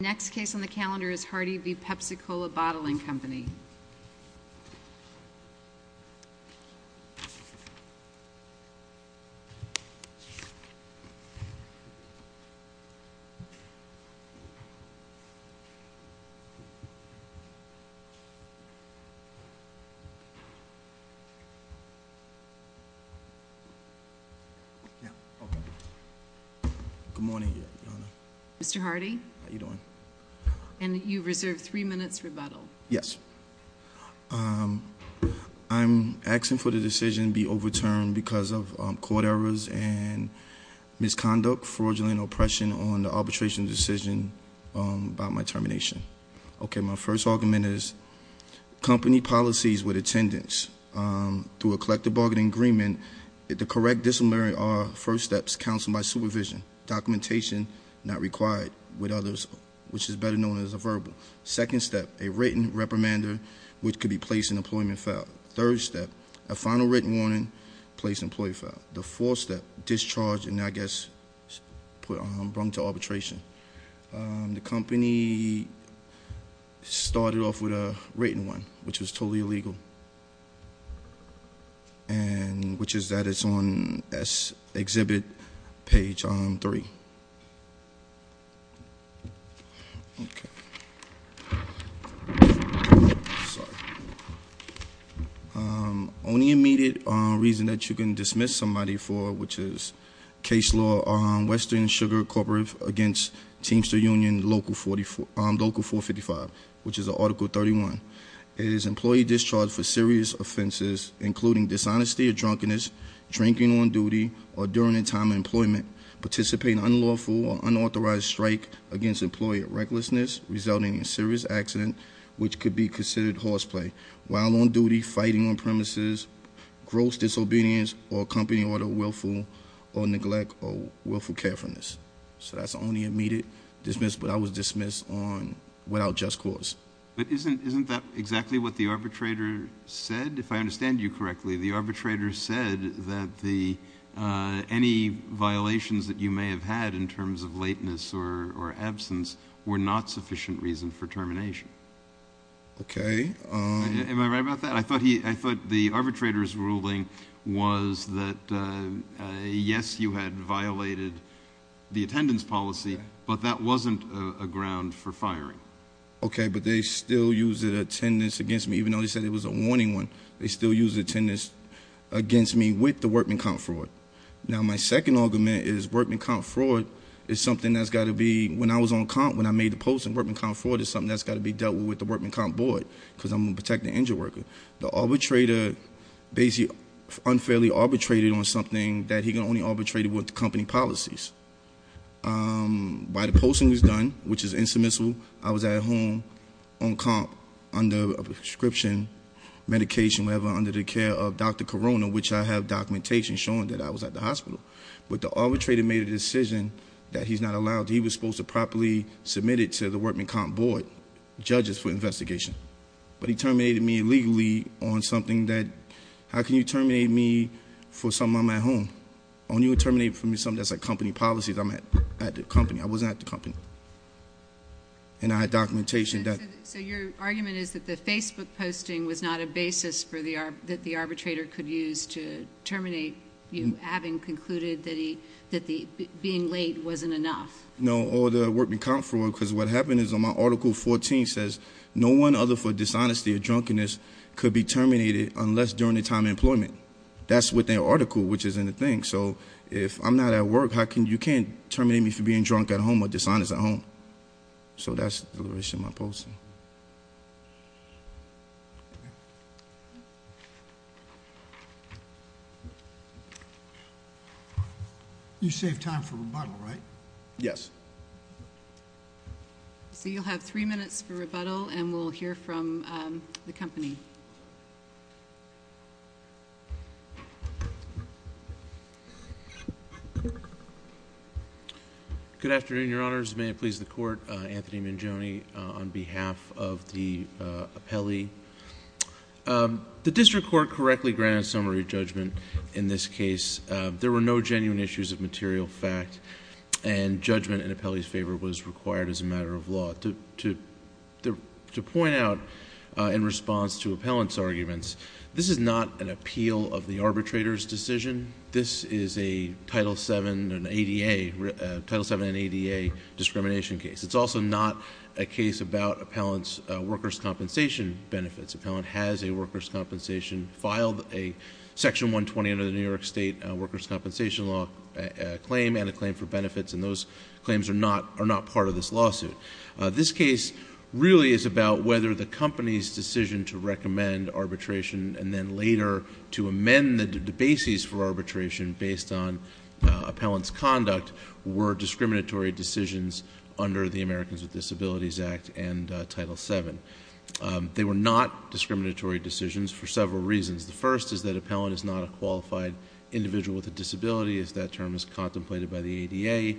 Next case on the calendar is Hardy v. Pepsi-Cola Bottling Company. Mr. Hardy? How you doing? And you reserve three minutes rebuttal. Yes. I'm asking for the decision be overturned because of court errors and misconduct, fraudulent oppression on the arbitration decision by my termination. Okay, my first argument is company policies with attendance through a collective bargaining agreement, and the correct disciplinary are first steps, counsel by supervision, documentation not required with others, which is better known as a verbal. Second step, a written reprimander, which could be placed in employment file. Third step, a final written warning placed in employee file. The fourth step, discharge and I guess, put on brunt to arbitration. The company started off with a written one, which was totally illegal. And which is that it's on this exhibit page on three. Okay. Sorry. Only immediate reason that you can dismiss somebody for, which is case law on Western Sugar Corporate against Teamster Union Local 455, which is Article 31. It is employee discharged for serious offenses, including dishonesty or drunkenness, drinking on duty, or during the time of employment. Participate in unlawful or unauthorized strike against employee recklessness, resulting in serious accident, which could be considered horseplay. While on duty, fighting on premises, gross disobedience, or company order willful, or neglect, or willful carefulness. So that's only immediate dismiss, but I was dismissed on, without just cause. But isn't, isn't that exactly what the arbitrator said? If I understand you correctly, the arbitrator said that the, any violations that you may have had in terms of lateness or, or absence were not sufficient reason for termination. Okay. Am I right about that? I thought he, I thought the arbitrator's ruling was that yes, you had violated the attendance policy, but that wasn't a, a ground for firing. Okay, but they still used the attendance against me, even though they said it was a warning one. They still used the attendance against me with the workman count fraud. Now my second argument is workman count fraud is something that's gotta be, when I was on count, when I made the posting, workman count fraud is something that's gotta be dealt with the workman count board, because I'm a protected injured worker. The arbitrator basically unfairly arbitrated on something that he can only arbitrate with the company policies. By the posting was done, which is insubmissive, I was at home on comp under a prescription medication. Whatever, under the care of Dr. Corona, which I have documentation showing that I was at the hospital. But the arbitrator made a decision that he's not allowed, he was supposed to properly submit it to the workman comp board, judges for investigation. But he terminated me illegally on something that, how can you terminate me for something I'm at home? Only would terminate for me something that's like company policies, I'm at the company, I wasn't at the company. And I had documentation that- So your argument is that the Facebook posting was not a basis that the arbitrator could use to terminate you, having concluded that being late wasn't enough. No, or the workman count fraud, because what happened is on my article 14 says, no one other for dishonesty or drunkenness could be terminated unless during the time of employment. That's what their article, which is in the thing. So if I'm not at work, you can't terminate me for being drunk at home or dishonest at home. So that's the reason why I'm posting. You saved time for rebuttal, right? Yes. So you'll have three minutes for rebuttal, and we'll hear from the company. Good afternoon, your honors. May it please the court, Anthony Mangione on behalf of the appellee. The district court correctly granted summary judgment in this case. There were no genuine issues of material fact, and judgment in appellee's favor was required as a matter of law. To point out in response to appellant's arguments, this is not an appeal of the arbitrator's decision. This is a Title VII and ADA discrimination case. It's also not a case about appellant's workers' compensation benefits. Appellant has a workers' compensation, filed a section 120 under the New York State Workers' Compensation Law claim and a claim for benefits. And those claims are not part of this lawsuit. This case really is about whether the company's decision to recommend arbitration and then later to amend the basis for arbitration based on appellant's conduct were discriminatory decisions under the Americans with Disabilities Act and Title VII. They were not discriminatory decisions for several reasons. The first is that appellant is not a qualified individual with a disability as that term is contemplated by the ADA.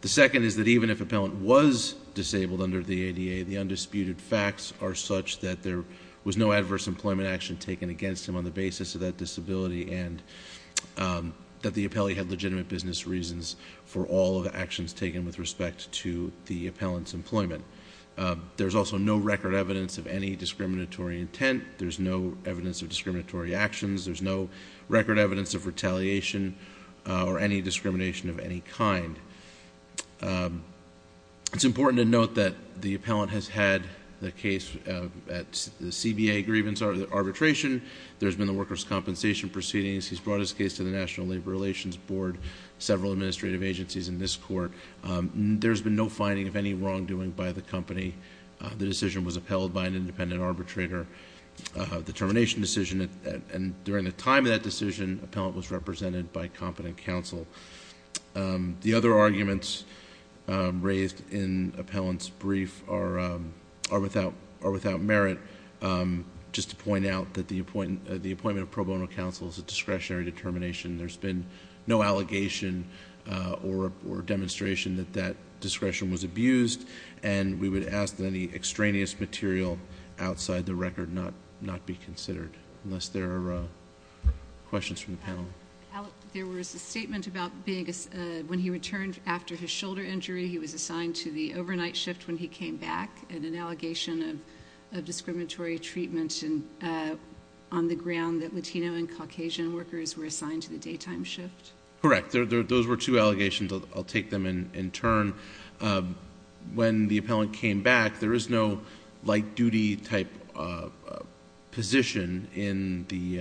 The second is that even if appellant was disabled under the ADA, the undisputed facts are such that there was no adverse employment action taken against him on the basis of that disability and that the appellee had legitimate business reasons for all of the actions taken with respect to the appellant's employment. There's also no record evidence of any discriminatory intent. There's no evidence of discriminatory actions. There's no record evidence of retaliation or any discrimination of any kind. It's important to note that the appellant has had the case at the CBA grievance arbitration. There's been a workers' compensation proceedings. He's brought his case to the National Labor Relations Board, several administrative agencies in this court. There's been no finding of any wrongdoing by the company. The decision was upheld by an independent arbitrator. The termination decision, and during the time of that decision, appellant was represented by competent counsel. The other arguments raised in appellant's brief are without merit. Just to point out that the appointment of pro bono counsel is a discretionary determination. There's been no allegation or demonstration that that discretion was abused. And we would ask that any extraneous material outside the record not be considered, unless there are questions from the panel. There was a statement about when he returned after his shoulder injury, he was assigned to the overnight shift when he came back, and an allegation of discriminatory treatment on the ground that Latino and Caucasian workers were assigned to the daytime shift. Correct, those were two allegations, I'll take them in turn. When the appellant came back, there is no light duty type position in the,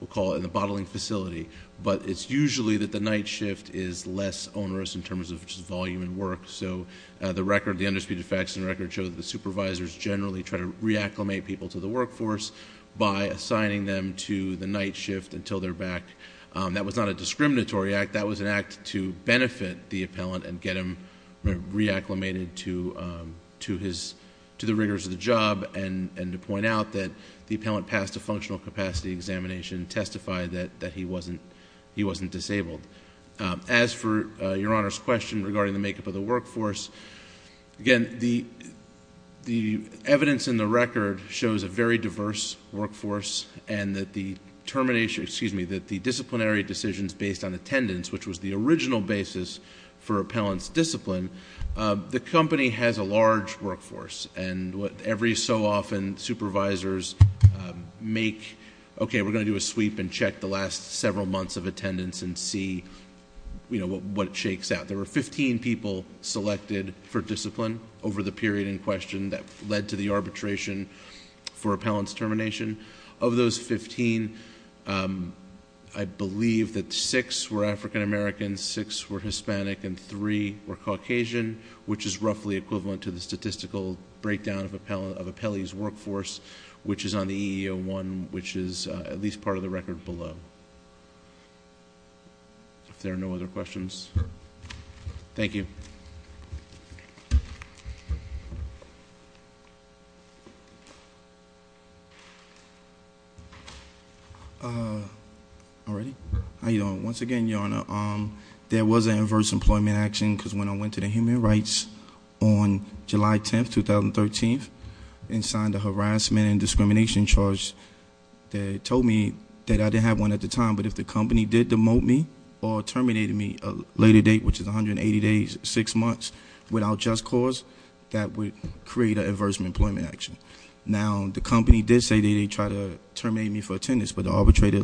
we'll call it in the bottling facility. But it's usually that the night shift is less onerous in terms of just volume and work. So the record, the undisputed facts in the record show that the supervisors generally try to reacclimate people to the workforce. By assigning them to the night shift until they're back. That was not a discriminatory act, that was an act to benefit the appellant and get him reacclimated to the rigors of the job. And to point out that the appellant passed a functional capacity examination, testified that he wasn't disabled. As for your Honor's question regarding the makeup of the workforce, again, the evidence in the record shows a very diverse workforce. And that the disciplinary decisions based on attendance, which was the original basis for appellant's discipline, the company has a large workforce. And every so often, supervisors make, okay, we're going to do a sweep and check the last several months of attendance and see what it shakes out. There were 15 people selected for discipline over the period in question that led to the arbitration for of those 15, I believe that six were African-American, six were Hispanic, and three were Caucasian, which is roughly equivalent to the statistical breakdown of appellee's workforce, which is on the EEO-1, which is at least part of the record below. If there are no other questions, thank you. All right, how you doing? Once again, Your Honor, there was an adverse employment action because when I went to the Human Rights on July 10th, 2013, and signed a harassment and discrimination charge. They told me that I didn't have one at the time, but if the company did demote me or terminated me a later date, which is 180 days, six months without just cause, that would create an adverse employment action. Now, the company did say that they tried to terminate me for attendance, but the arbitrator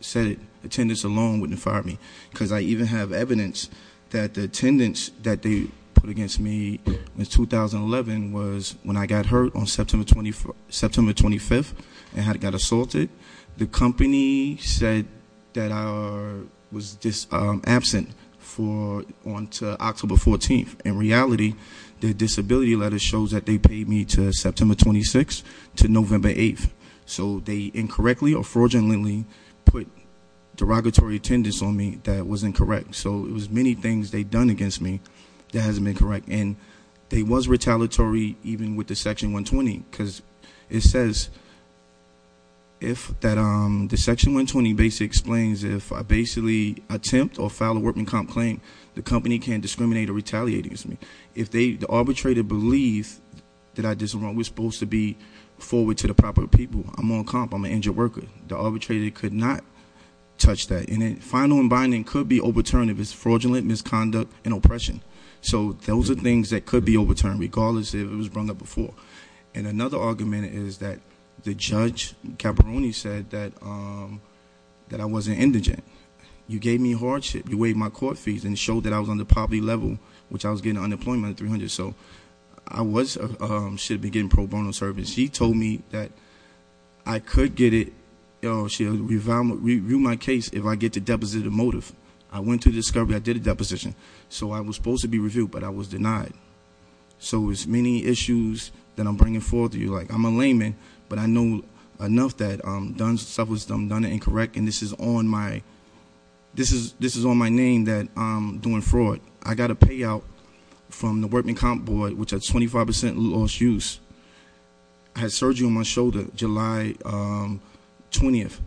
said attendance alone wouldn't fire me. because I even have evidence that the attendance that they put against me in 2011 was when I got hurt on September 25th and had got assaulted. The company said that I was just absent on October 14th. In reality, the disability letter shows that they paid me to September 26th to November 8th. So they incorrectly or fraudulently put derogatory attendance on me that was incorrect. So it was many things they'd done against me that hasn't been correct. And they was retaliatory even with the section 120 because it says if the section 120 basically explains if I basically attempt or file a workman comp claim, the company can't discriminate or retaliate against me. If the arbitrator believes that I was supposed to be forward to the proper people, I'm on comp, I'm an injured worker. The arbitrator could not touch that. And then final and binding could be overturned if it's fraudulent misconduct and oppression. So those are things that could be overturned regardless if it was brought up before. And another argument is that the judge, Caperoni, said that I wasn't indigent. You gave me hardship, you waived my court fees and showed that I was on the poverty level, which I was getting unemployment at 300. So I should have been getting pro bono service. She told me that I could get it, she'll review my case if I get to deposit a motive. I went to the discovery, I did a deposition. So I was supposed to be reviewed, but I was denied. So it's many issues that I'm bringing forward to you, like I'm a layman, but I know enough that I've done stuff that's done it incorrect, and this is on my name that I'm doing fraud. I got a payout from the workman comp board, which had 25% lost use. I had surgery on my shoulder July 20th,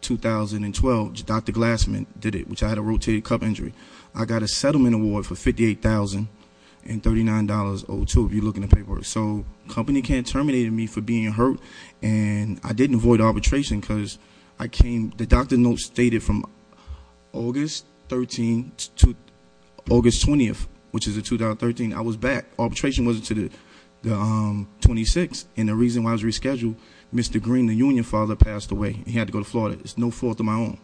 2012. Dr. Glassman did it, which I had a rotated cup injury. I got a settlement award for $58,039.02, if you look in the paperwork. So company can't terminate me for being hurt, and I didn't avoid arbitration because I came, the doctor notes stated from August 20th, which is the 2013, I was back. Arbitration was to the 26th, and the reason why I was rescheduled, Mr. Green, the union father passed away, he had to go to Florida, it's no fault of my own.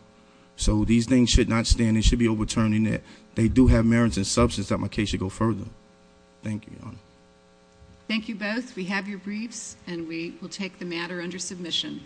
So these things should not stand, it should be overturned in that they do have merits and substance that my case should go further. Thank you. Thank you both. We have your briefs, and we will take the matter under submission.